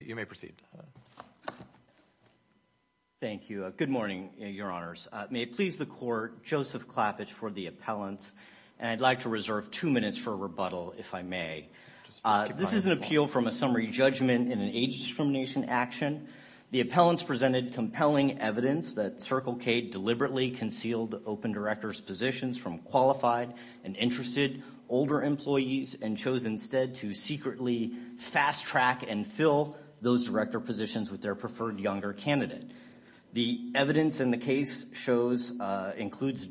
You may proceed. Thank you. Good morning, Your Honors. May it please the Court, Joseph Klappich for the appellants, and I'd like to reserve two minutes for rebuttal, if I may. This is an appeal from a summary judgment in an age discrimination action. The appellants presented compelling evidence that Circle K deliberately concealed open directors' positions from qualified and interested older employees and chose instead to secretly fast-track and fill those director positions with their preferred younger candidate. The evidence in the case shows, includes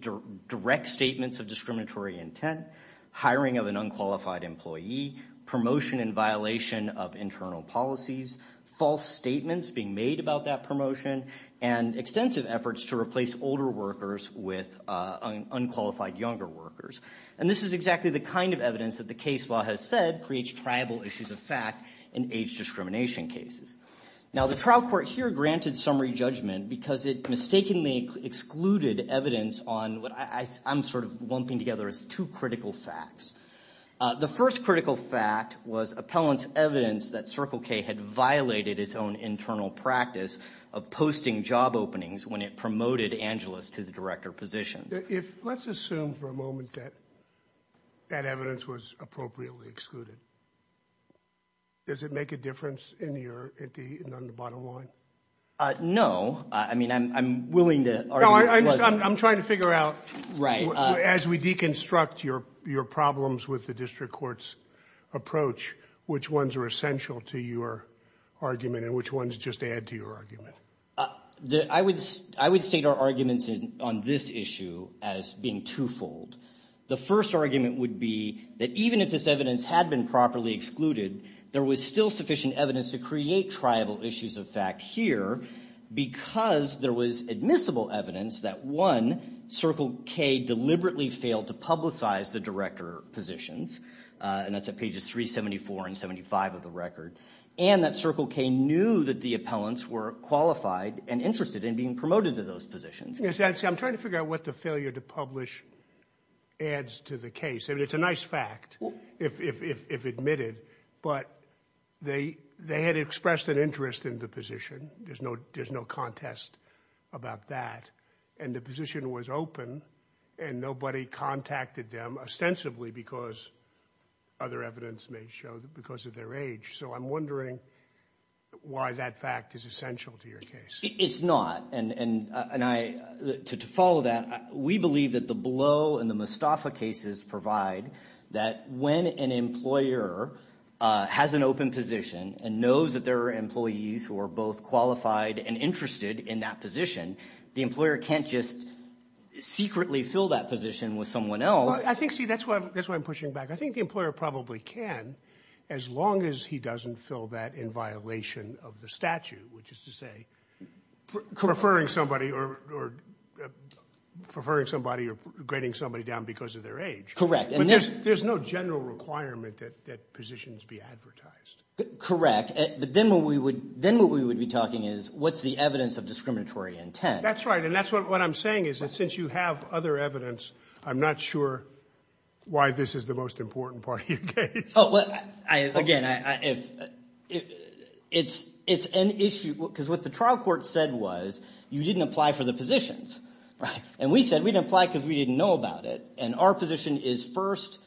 direct statements of discriminatory intent, hiring of an unqualified employee, promotion in violation of internal policies, false statements being made about that promotion, and extensive efforts to replace older workers with unqualified younger workers. And this is exactly the kind of evidence that the case law has said creates tribal issues of fact in age discrimination cases. Now the trial court here granted summary judgment because it mistakenly excluded evidence on what I'm sort of lumping together as two critical facts. The first critical fact was appellants' evidence that Circle K had violated its own internal practice of posting job openings when it promoted Angelus to the director positions. If let's assume for a moment that that evidence was appropriately excluded, does it make a difference in your, at the, on the bottom line? Uh, no. I mean, I'm, I'm willing to argue that it does. I'm trying to figure out. Right. As we deconstruct your, your problems with the district court's approach, which ones are essential to your argument and which ones just add to your argument? Uh, the, I would, I would state our arguments in, on this issue as being twofold. The first argument would be that even if this evidence had been properly excluded, there was still sufficient evidence to create tribal issues of fact here because there was admissible evidence that one, Circle K deliberately failed to publicize the director positions, and that's at pages 374 and 75 of the record. And that Circle K knew that the appellants were qualified and interested in being promoted to those positions. Yes. I'm trying to figure out what the failure to publish adds to the case. I mean, it's a nice fact if, if, if admitted, but they, they had expressed an interest in the position. There's no, there's no contest about that. And the position was open and nobody contacted them ostensibly because other evidence may show that because of their age. So I'm wondering why that fact is essential to your case. It's not. And, and I, to follow that, we believe that the Blow and the Mostafa cases provide that when an employer has an open position and knows that there are employees who are both qualified and interested in that position, the employer can't just secretly fill that position with someone else. I think, see, that's why, that's why I'm pushing back. I think the employer probably can, as long as he doesn't fill that in violation of the statute, which is to say preferring somebody or preferring somebody or grading somebody down because of their age. And there's, there's no general requirement that, that positions be advertised. Correct. But then what we would, then what we would be talking is what's the evidence of discriminatory intent. That's right. And that's what I'm saying is that since you have other evidence, I'm not sure why this is the most important part of your case. Oh, well, I, again, I, if it's, it's an issue, because what the trial court said was you didn't apply for the positions, right? And we said we didn't apply because we didn't know about it. And our position is first,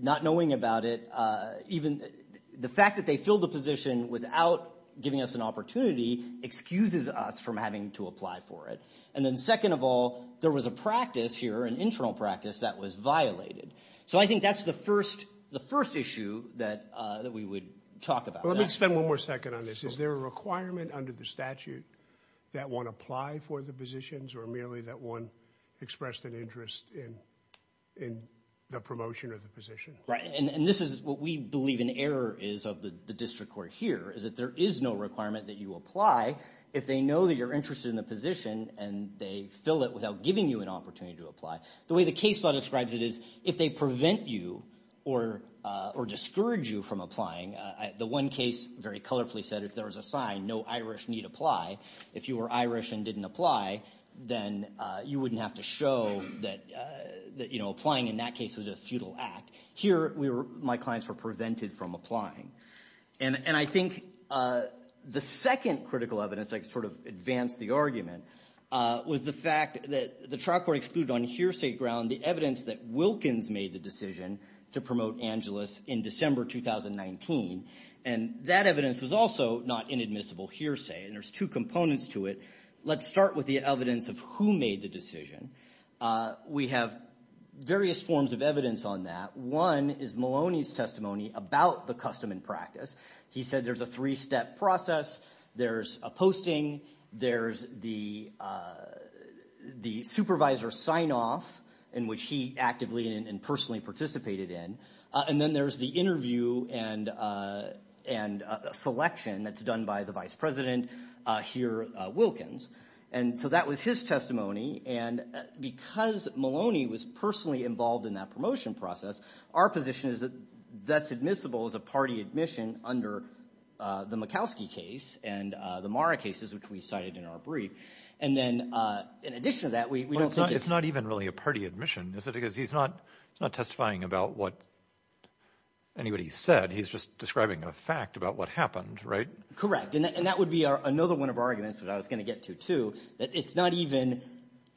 not knowing about it, even the fact that they filled the position without giving us an opportunity excuses us from having to apply for it. And then second of all, there was a practice here, an internal practice that was violated. So I think that's the first, the first issue that, that we would talk about. Let me spend one more second on this. Is there a requirement under the statute that one apply for the positions or merely that one expressed an interest in, in the promotion of the position? Right. And this is what we believe an error is of the district court here is that there is no requirement that you apply if they know that you're interested in the position and they fill it without giving you an opportunity to apply. The way the case law describes it is if they prevent you or, or discourage you from applying, the one case very colorfully said if there was a sign, no Irish need apply, if you were Irish and didn't apply, then you wouldn't have to show that, that, you know, applying in that case was a futile act. Here we were, my clients were prevented from applying. And, and I think the second critical evidence, I can sort of advance the argument, was the fact that the trial court excluded on hearsay ground, the evidence that Wilkins made the decision to promote Angeles in December, 2019. And that evidence was also not inadmissible hearsay. And there's two components to it. Let's start with the evidence of who made the decision. We have various forms of evidence on that. One is Maloney's testimony about the custom and practice. He said there's a three-step process. There's a posting. There's the, the supervisor sign off in which he actively and personally participated in. And then there's the interview and, and selection that's done by the vice president here, Wilkins. And so that was his testimony. And because Maloney was personally involved in that promotion process, our position is that that's admissible as a party admission under the Murkowski case and the Mara cases, which we cited in our brief. And then in addition to that, we don't think it's. It's not even really a party admission, is it? Because he's not, he's not testifying about what anybody said. He's just describing a fact about what happened, right? Correct. And that would be another one of our arguments that I was going to get to, too. That it's not even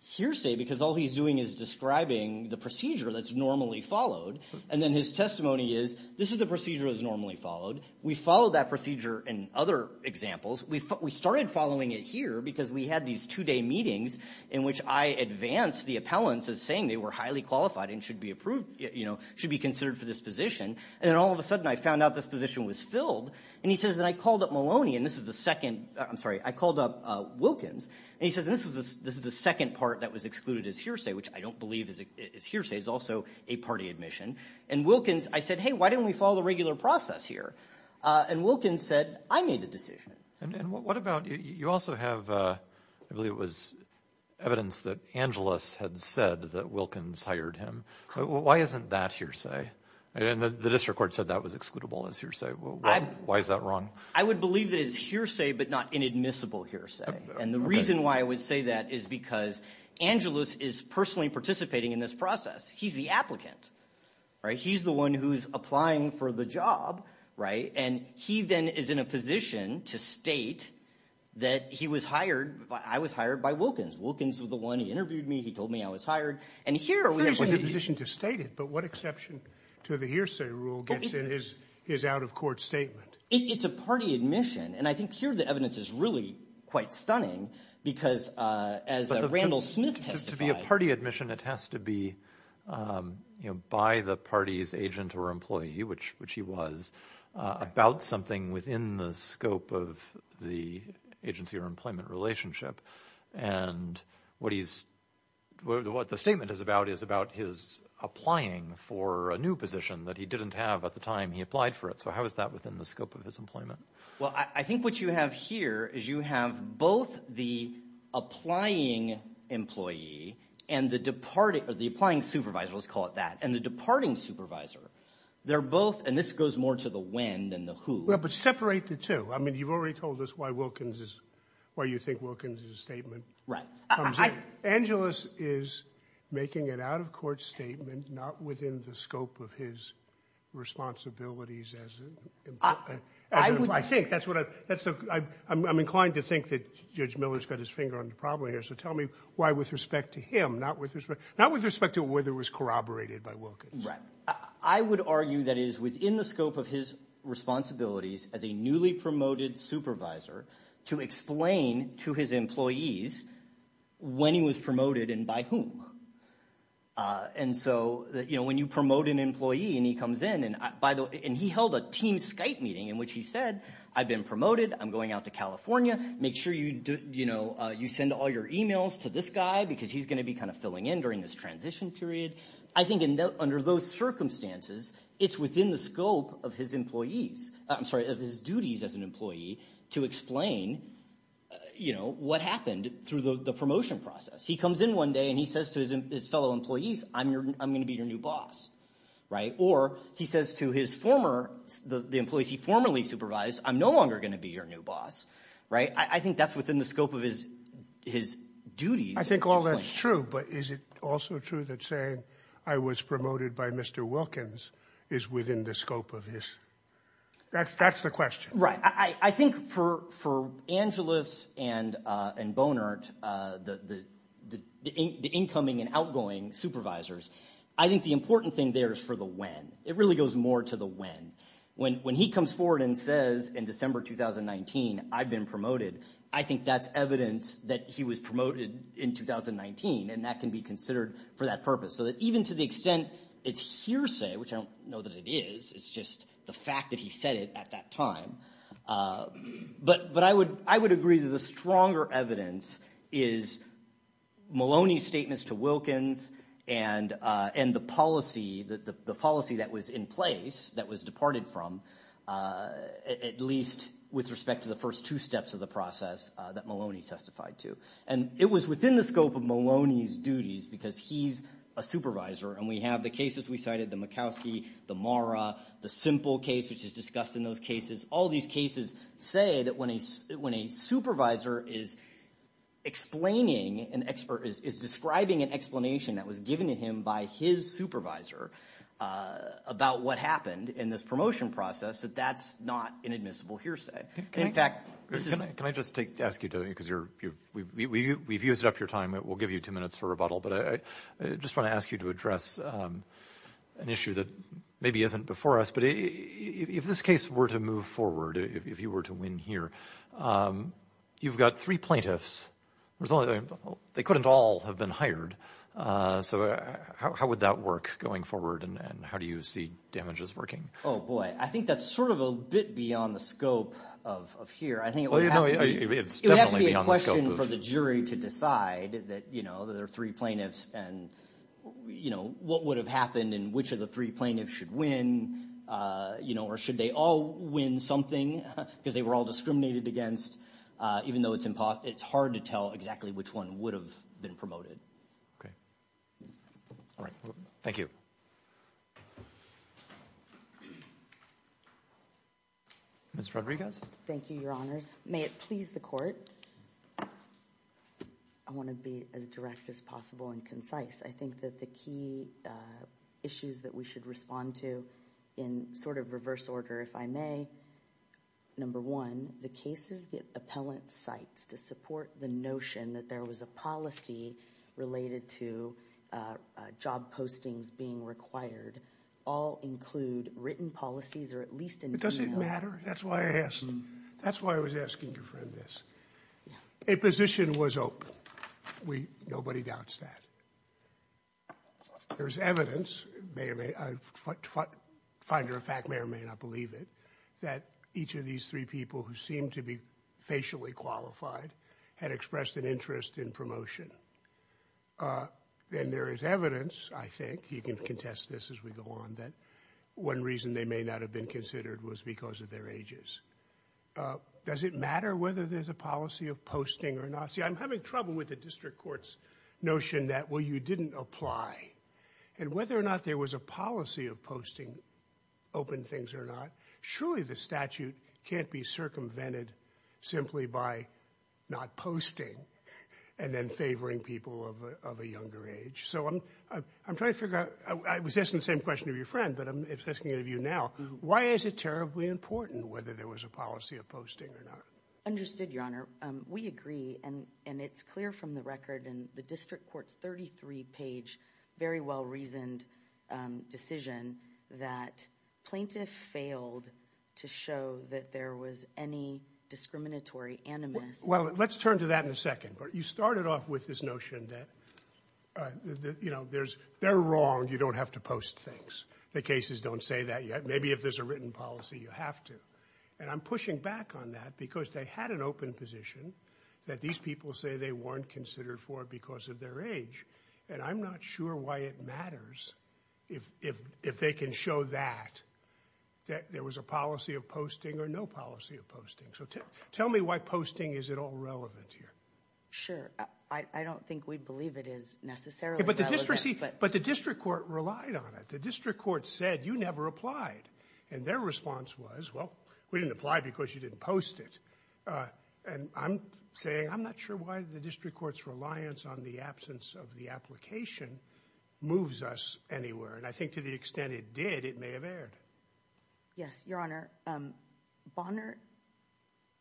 hearsay because all he's doing is describing the procedure that's normally followed. And then his testimony is, this is the procedure that's normally followed. We followed that procedure in other examples. We started following it here because we had these two-day meetings in which I advanced the appellants as saying they were highly qualified and should be approved, you know, should be considered for this position. And then all of a sudden I found out this position was filled. And he says, and I called up Maloney, and this is the second, I'm sorry, I called up Wilkins. And he says, this is the second part that was excluded as hearsay, which I don't believe is hearsay. It's also a party admission. And Wilkins, I said, hey, why didn't we follow the regular process here? And Wilkins said, I made the decision. And what about, you also have, I believe it was evidence that Angelus had said that Wilkins hired him. Why isn't that hearsay? And the district court said that was excludable as hearsay. Why is that wrong? I would believe that it's hearsay, but not inadmissible hearsay. And the reason why I would say that is because Angelus is personally participating in this process. He's the applicant, right? He's the one who's applying for the job, right? And he then is in a position to state that he was hired, I was hired by Wilkins. Wilkins was the one who interviewed me. He told me I was hired. And here we have- He's in a position to state it. But what exception to the hearsay rule gets in his out-of-court statement? It's a party admission. And I think here the evidence is really quite stunning because as Randall Smith testified- To be a party admission, it has to be by the party's agent or employee, which he was, about something within the scope of the agency or employment relationship. And what he's, what the statement is about is about his applying for a new position that he didn't have at the time he applied for it. So how is that within the scope of his employment? Well, I think what you have here is you have both the applying employee and the departing, the applying supervisor, let's call it that, and the departing supervisor. They're both, and this goes more to the when than the who. Well, but separate the two. I mean, you've already told us why Wilkins is, why you think Wilkins' statement comes in. Angelus is making an out-of-court statement, not within the scope of his responsibilities as an employee. I think that's what I, that's the, I'm inclined to think that Judge Miller's got his finger on the problem here. So tell me why with respect to him, not with respect, not with respect to whether it was corroborated by Wilkins. I would argue that it is within the scope of his responsibilities as a newly promoted supervisor to explain to his employees when he was promoted and by whom. And so, you know, when you promote an employee and he comes in, and by the way, and he held a team Skype meeting in which he said, I've been promoted, I'm going out to California, make sure you do, you know, you send all your emails to this guy because he's going to be kind of filling in during this transition period. I think under those circumstances, it's within the scope of his employees, I'm sorry, of his duties as an employee to explain, you know, what happened through the promotion process. He comes in one day and he says to his fellow employees, I'm your, I'm going to be your new boss. Right? Or he says to his former, the employees he formerly supervised, I'm no longer going to be your new boss. Right? I think that's within the scope of his, his duties. I think all that's true, but is it also true that saying I was promoted by Mr. Wilkins is within the scope of his, that's, that's the question. Right. I think for, for Angelus and, and Bonert, the, the, the incoming and outgoing supervisors, I think the important thing there is for the when. It really goes more to the when. When, when he comes forward and says in December 2019, I've been promoted, I think that's evidence that he was promoted in 2019 and that can be considered for that purpose. So that even to the extent it's hearsay, which I don't know that it is, it's just the fact that he said it at that time. But, but I would, I would agree that the stronger evidence is Maloney's statements to Wilkins and, and the policy, the policy that was in place that was departed from at least with respect to the first two steps of the process that Maloney testified to. And it was within the scope of Maloney's duties because he's a supervisor and we have the cases we cited, the Murkowski, the Mara, the simple case, which is discussed in those cases. All of these cases say that when a, when a supervisor is explaining an expert, is describing an explanation that was given to him by his supervisor about what happened in this promotion process, that that's not inadmissible hearsay. In fact, this is- Can I, can I just take, ask you to, because you're, we've, we've, we've used up your time. We'll give you two minutes for rebuttal, but I just want to ask you to address an issue that maybe isn't before us, but if this case were to move forward, if you were to win here, you've got three plaintiffs, there's only, they couldn't all have been hired. So how would that work going forward and how do you see damages working? Oh boy. I think that's sort of a bit beyond the scope of, of here. I think it would have to- I think that, you know, there are three plaintiffs and, you know, what would have happened and which of the three plaintiffs should win, you know, or should they all win something because they were all discriminated against, even though it's impossible, it's hard to tell exactly which one would have been promoted. Okay. All right. Thank you. Ms. Rodriguez? Thank you, Your Honors. May it please the Court. I want to be, I want to be brief. I want to be as direct as possible and concise. I think that the key issues that we should respond to in sort of reverse order if I may, number one, the cases that appellant cites to support the notion that there was a policy related to job postings being required all include written policies or at least in- Does it matter? That's why I asked. That's why I was asking your friend this. A position was open. We, nobody doubts that. There's evidence, may or may, finder of fact may or may not believe it, that each of these three people who seem to be facially qualified had expressed an interest in promotion. Then there is evidence, I think, you can contest this as we go on, that one reason they may not have been considered was because of their ages. Does it matter whether there's a policy of posting or not? See, I'm having trouble with the district court's notion that, well, you didn't apply. And whether or not there was a policy of posting open things or not, surely the statute can't be circumvented simply by not posting and then favoring people of a younger age. So I'm trying to figure out, I was asking the same question of your friend, but I'm asking it of you now. Why is it terribly important whether there was a policy of posting or not? Understood, Your Honor. We agree, and it's clear from the record in the district court's 33-page, very well-reasoned decision that plaintiff failed to show that there was any discriminatory animus. Well, let's turn to that in a second. You started off with this notion that, you know, they're wrong, you don't have to post things. The cases don't say that yet. Maybe if there's a written policy, you have to. And I'm pushing back on that because they had an open position that these people say they weren't considered for because of their age. And I'm not sure why it matters if they can show that, that there was a policy of posting or no policy of posting. So tell me why posting is at all relevant here. Sure. I don't think we believe it is necessarily relevant. But the district court relied on it. The district court said, you never applied. And their response was, well, we didn't apply because you didn't post it. And I'm saying, I'm not sure why the district court's reliance on the absence of the application moves us anywhere. And I think to the extent it did, it may have erred. Yes, Your Honor. Bonner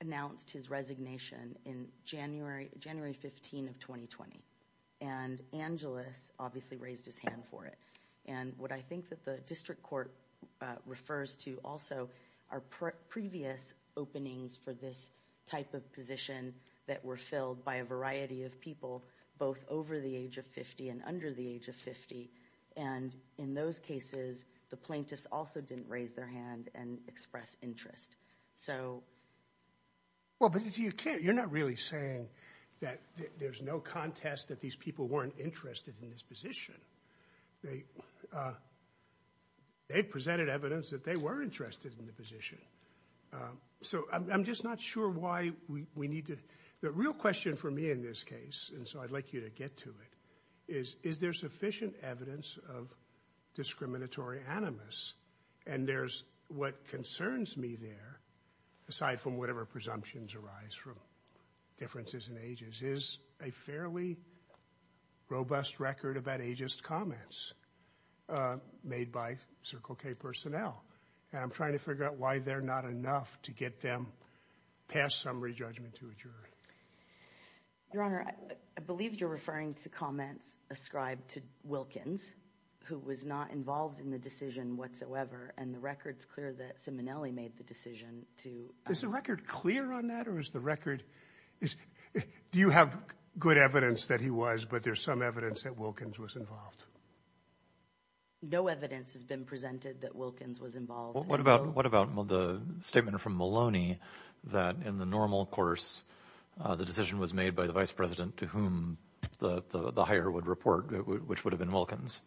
announced his resignation in January, January 15 of 2020. And Angeles obviously raised his hand for it. And what I think that the district court refers to also are previous openings for this type of position that were filled by a variety of people, both over the age of 50 and under the age of 50. And in those cases, the plaintiffs also didn't raise their hand and express interest. So well, but you can't, you're not really saying that there's no contest that these people weren't interested in this position. They, they presented evidence that they were interested in the position. So I'm just not sure why we need to, the real question for me in this case, and so I'd like you to get to it, is, is there sufficient evidence of discriminatory animus? And there's, what concerns me there, aside from whatever presumptions arise from differences in ages, is a fairly robust record about ageist comments made by Circle K personnel. And I'm trying to figure out why they're not enough to get them past summary judgment to a juror. Your Honor, I believe you're referring to comments ascribed to Wilkins, who was not involved in the decision whatsoever. And the record's clear that Simonelli made the decision to... Is the record clear on that, or is the record, is, do you have good evidence that he was, but there's some evidence that Wilkins was involved? No evidence has been presented that Wilkins was involved. What about, what about the statement from Maloney that in the normal course, the decision was made by the vice president to whom the hire would report, which would have been Wilkins.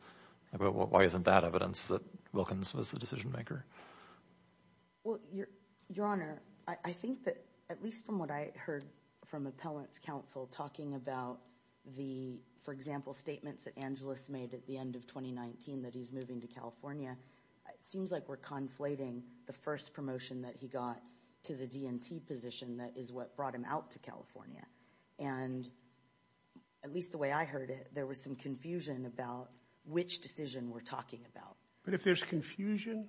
Why isn't that evidence that Wilkins was the decision maker? Well, Your Honor, I think that at least from what I heard from appellants counsel talking about the, for example, statements that Angeles made at the end of 2019, that he's moving to California, it seems like we're conflating the first promotion that he got to the DNT position that is what brought him out to California. And at least the way I heard it, there was some confusion about which decision we're talking about. But if there's confusion...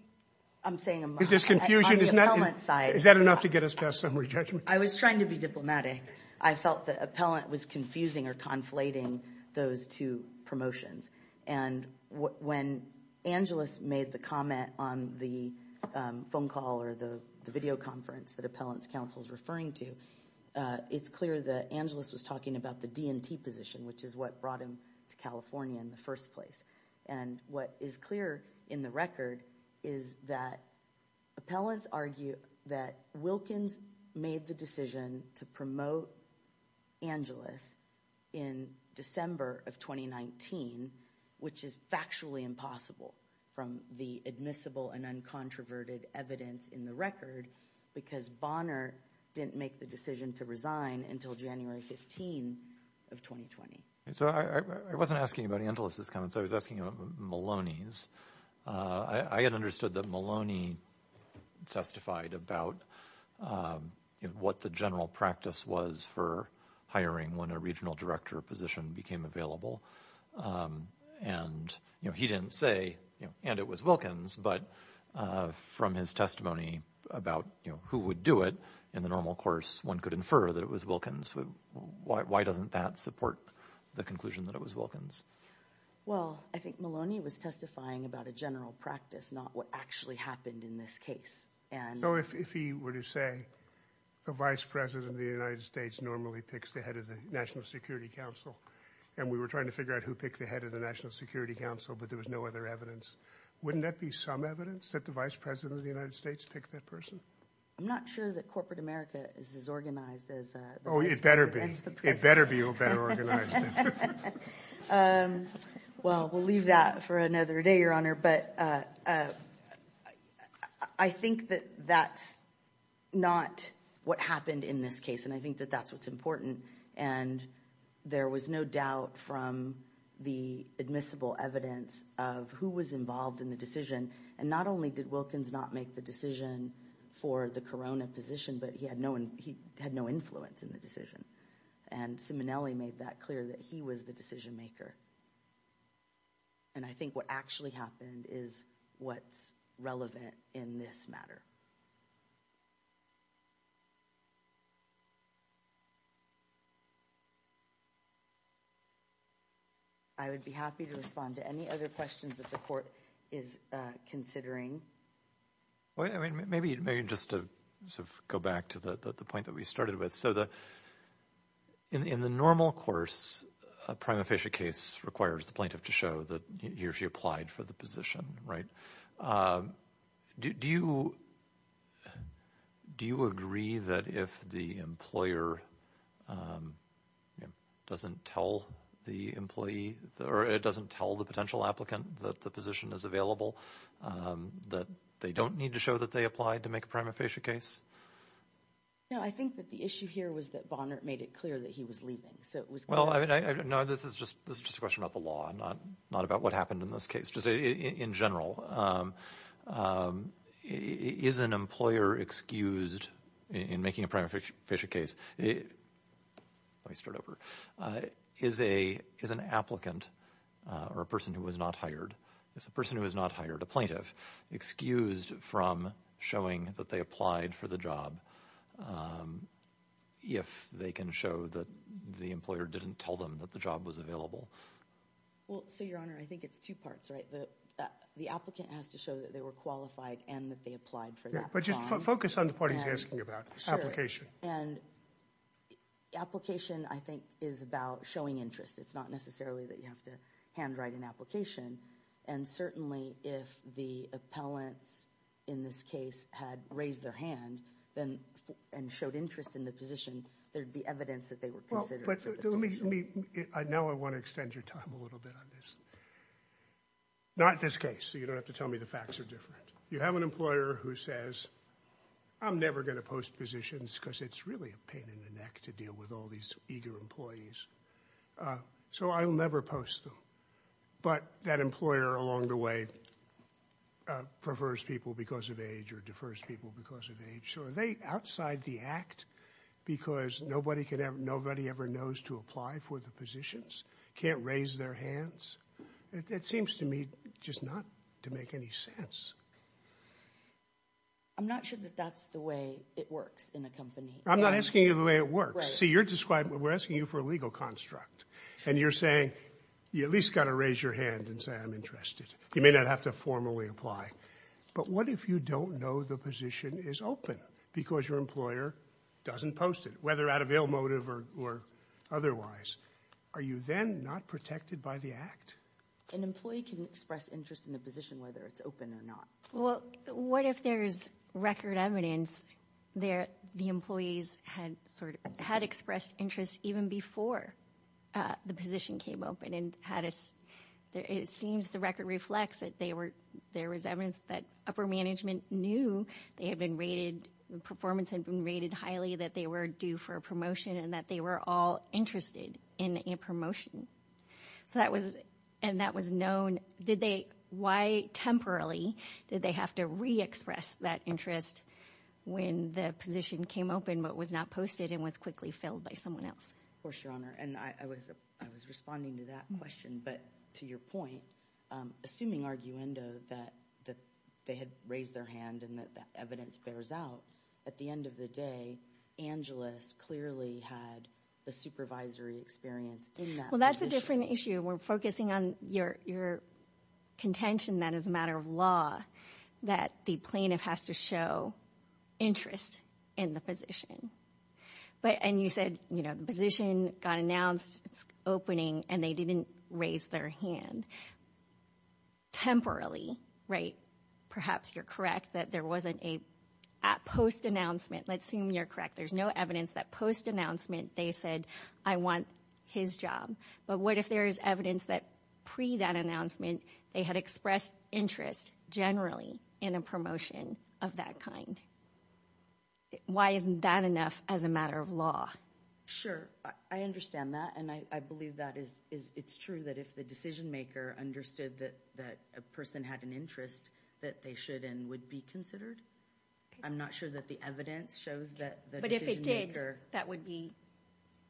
I'm saying... If there's confusion... On the appellant side... Is that enough to get us past summary judgment? I was trying to be diplomatic. I felt the appellant was confusing or conflating those two promotions. And when Angeles made the comment on the phone call or the video conference that appellants counsel is referring to, it's clear that Angeles was talking about the DNT position, which is what brought him to California in the first place. And what is clear in the record is that appellants argue that Wilkins made the decision to promote Angeles in December of 2019, which is factually impossible from the admissible and uncontroverted evidence in the record, because Bonner didn't make the decision to resign until January 15 of 2020. So I wasn't asking about Angeles' comments, I was asking about Maloney's. I had understood that Maloney testified about what the general practice was for hiring when a regional director position became available. And he didn't say, and it was Wilkins, but from his testimony about who would do it in the normal course, one could infer that it was Wilkins. Why doesn't that support the conclusion that it was Wilkins? Well, I think Maloney was testifying about a general practice, not what actually happened in this case. So if he were to say, the vice president of the United States normally picks the head of the National Security Council, and we were trying to figure out who picked the head of the National Security Council, but there was no other evidence, wouldn't that be some evidence that the vice president of the United States picked that person? I'm not sure that corporate America is as organized as the vice president. It better be all better organized. Well, we'll leave that for another day, Your Honor, but I think that that's not what happened in this case. And I think that that's what's important. And there was no doubt from the admissible evidence of who was involved in the decision. And not only did Wilkins not make the decision for the corona position, but he had no influence in the decision. And Simonelli made that clear that he was the decision maker. And I think what actually happened is what's relevant in this matter. I would be happy to respond to any other questions that the court is considering. Well, I mean, maybe just to sort of go back to the point that we started with. So in the normal course, a prima facie case requires the plaintiff to show that he or she applied for the position, right? Do you agree that if the employer doesn't tell the employee or it doesn't tell the potential applicant that the position is available, that they don't need to show that they applied to make a prima facie case? No, I think that the issue here was that Bonner made it clear that he was leaving. So it was... Well, I mean, no, this is just a question about the law, not about what happened in this case, just in general. Is an employer excused in making a prima facie case? Let me start over. Is an applicant or a person who was not hired, it's a person who was not hired, a plaintiff, excused from showing that they applied for the job if they can show that the employer didn't tell them that the job was available? Well, so, Your Honor, I think it's two parts, right? The applicant has to show that they were qualified and that they applied for the job. But just focus on the part he's asking about, application. And application, I think, is about showing interest. It's not necessarily that you have to handwrite an application. And certainly, if the appellants in this case had raised their hand and showed interest in the position, there'd be evidence that they were considered for the position. Let me, now I want to extend your time a little bit on this. Not this case, so you don't have to tell me the facts are different. You have an employer who says, I'm never going to post positions because it's really a pain in the neck to deal with all these eager employees. So I'll never post them. But that employer along the way prefers people because of age or defers people because of age. So are they outside the act because nobody ever knows to apply for the positions? Can't raise their hands? It seems to me just not to make any sense. I'm not sure that that's the way it works in a company. I'm not asking you the way it works. See, you're describing, we're asking you for a legal construct. And you're saying, you at least got to raise your hand and say, I'm interested. You may not have to formally apply. But what if you don't know the position is open because your employer doesn't post it, whether out of ill motive or otherwise? Are you then not protected by the act? An employee can express interest in a position, whether it's open or not. Well, what if there's record evidence there, the employees had sort of had expressed interest even before the position came open and had, it seems the record reflects that they were, there was evidence that upper management knew they had been rated, the performance had been rated highly, that they were due for a promotion and that they were all interested in a promotion. So that was, and that was known, did they, why temporarily did they have to re-express that interest when the position came open but was not posted and was quickly filled by someone else? Of course, Your Honor. And I was, I was responding to that question, but to your point, assuming arguendo that they had raised their hand and that that evidence bears out, at the end of the day, Angelus clearly had the supervisory experience in that position. Well, that's a different issue. We're focusing on your contention that as a matter of law, that the plaintiff has to show interest in the position. But, and you said, you know, the position got announced, it's opening, and they didn't raise their hand temporarily, right? Perhaps you're correct that there wasn't a, at post-announcement, let's assume you're correct, there's no evidence that post-announcement they said, I want his job. But what if there is evidence that pre that announcement, they had expressed interest generally in a promotion of that kind? Why isn't that enough as a matter of law? Sure. I understand that. And I believe that is, it's true that if the decision-maker understood that a person had an interest that they should and would be considered. I'm not sure that the evidence shows that the decision-maker. But if it did, that would be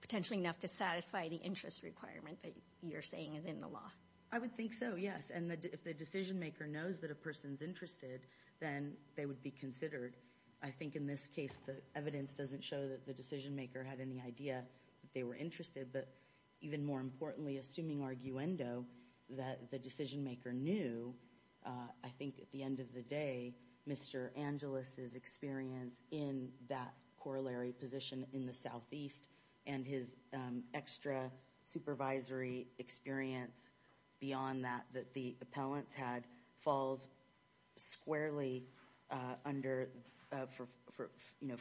potentially enough to satisfy the interest requirement that you're saying is in the law. I would think so, yes. And if the decision-maker knows that a person's interested, then they would be considered. I think in this case, the evidence doesn't show that the decision-maker had any idea that they were interested. But even more importantly, assuming arguendo, that the decision-maker knew, I think at the end of the day, Mr. Angelis's experience in that corollary position in the Southeast and his extra supervisory experience beyond that, that the appellants had, falls squarely under, for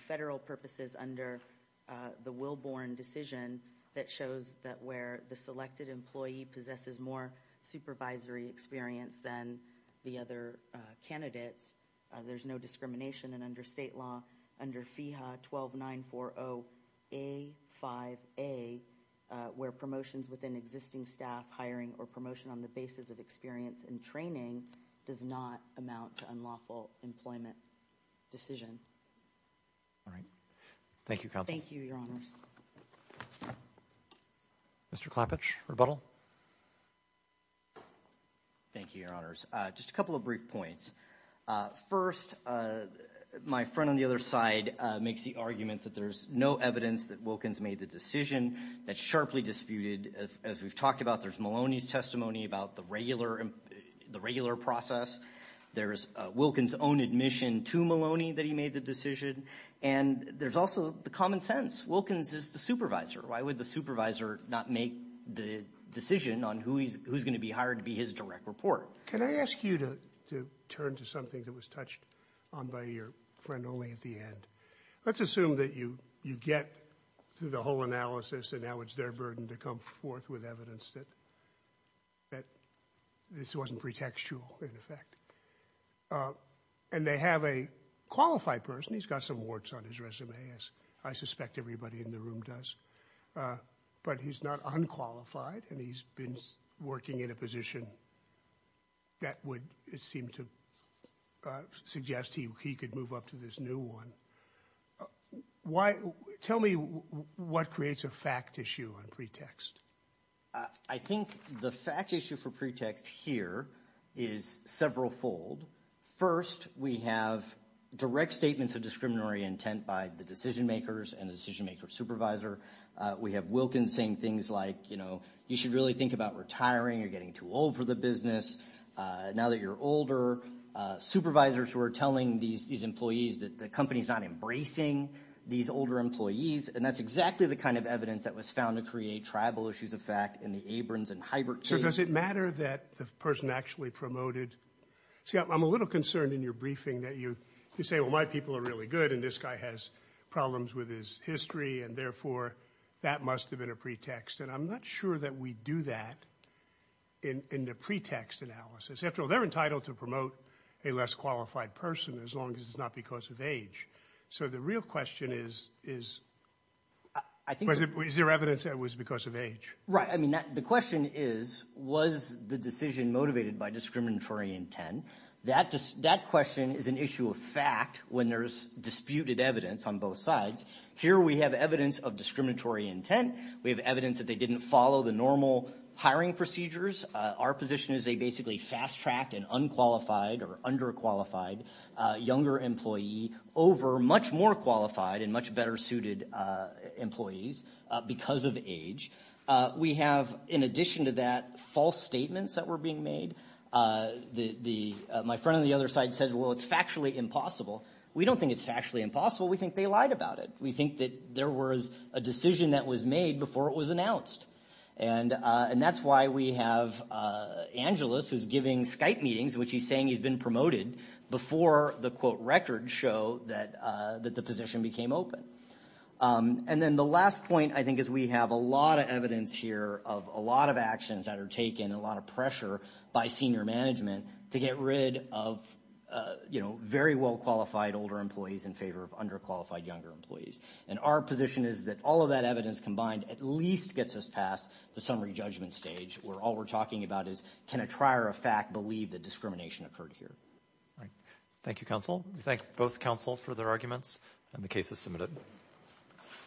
federal purposes, under the Wilborn decision that shows that where the selected employee possesses more supervisory experience than the other candidates, there's no discrimination. And under state law, under FEHA 12940A5A, where promotions within existing staff hiring or promotion on the basis of experience and training does not amount to unlawful employment decision. All right. Thank you, Counsel. Thank you, Your Honors. Mr. Klappich, rebuttal. Thank you, Your Honors. Just a couple of brief points. First, my friend on the other side makes the argument that there's no evidence that Wilkins made the decision. That's sharply disputed. As we've talked about, there's Maloney's testimony about the regular process. There's Wilkins' own admission to Maloney that he made the decision. And there's also the common sense. Wilkins is the supervisor. Why would the supervisor not make the decision on who's going to be hired to be his direct report? Can I ask you to turn to something that was touched on by your friend only at the end? Let's assume that you get through the whole analysis, and now it's their burden to come forth with evidence that this wasn't pretextual, in effect. And they have a qualified person. He's got some warts on his resume, as I suspect everybody in the room does. But he's not unqualified, and he's been working in a position that would seem to suggest he could move up to this new one. Tell me what creates a fact issue on pretext. I think the fact issue for pretext here is several fold. First, we have direct statements of discriminatory intent by the decision makers and the decision maker supervisor. We have Wilkins saying things like, you know, you should really think about retiring or getting too old for the business now that you're older. Supervisors were telling these employees that the company's not embracing these older employees, and that's exactly the kind of evidence that was found to create tribal issues of fact in the Abrams and Heibert case. So does it matter that the person actually promoted? See, I'm a little concerned in your briefing that you say, well, my people are really good, and this guy has problems with his history, and therefore, that must have been a pretext. And I'm not sure that we do that in the pretext analysis. After all, they're entitled to promote a less qualified person as long as it's not because of age. So the real question is, is there evidence that it was because of age? Right. I mean, the question is, was the decision motivated by discriminatory intent? That question is an issue of fact when there's disputed evidence on both sides. Here we have evidence of discriminatory intent. We have evidence that they didn't follow the normal hiring procedures. Our position is they basically fast-tracked an unqualified or underqualified younger employee over much more qualified and much better suited employees because of age. We have, in addition to that, false statements that were being made. My friend on the other side said, well, it's factually impossible. We don't think it's factually impossible. We think they lied about it. We think that there was a decision that was made before it was announced. And that's why we have Angeles, who's giving Skype meetings, which he's saying he's been promoted before the, quote, records show that the position became open. And then the last point, I think, is we have a lot of evidence here of a lot of actions that are taken and a lot of pressure by senior management to get rid of, you know, very well-qualified older employees in favor of underqualified younger employees. And our position is that all of that evidence combined at least gets us past the summary judgment stage where all we're talking about is can a trier of fact believe that discrimination occurred here? All right. Thank you, counsel. We thank both counsel for their arguments, and the case is submitted.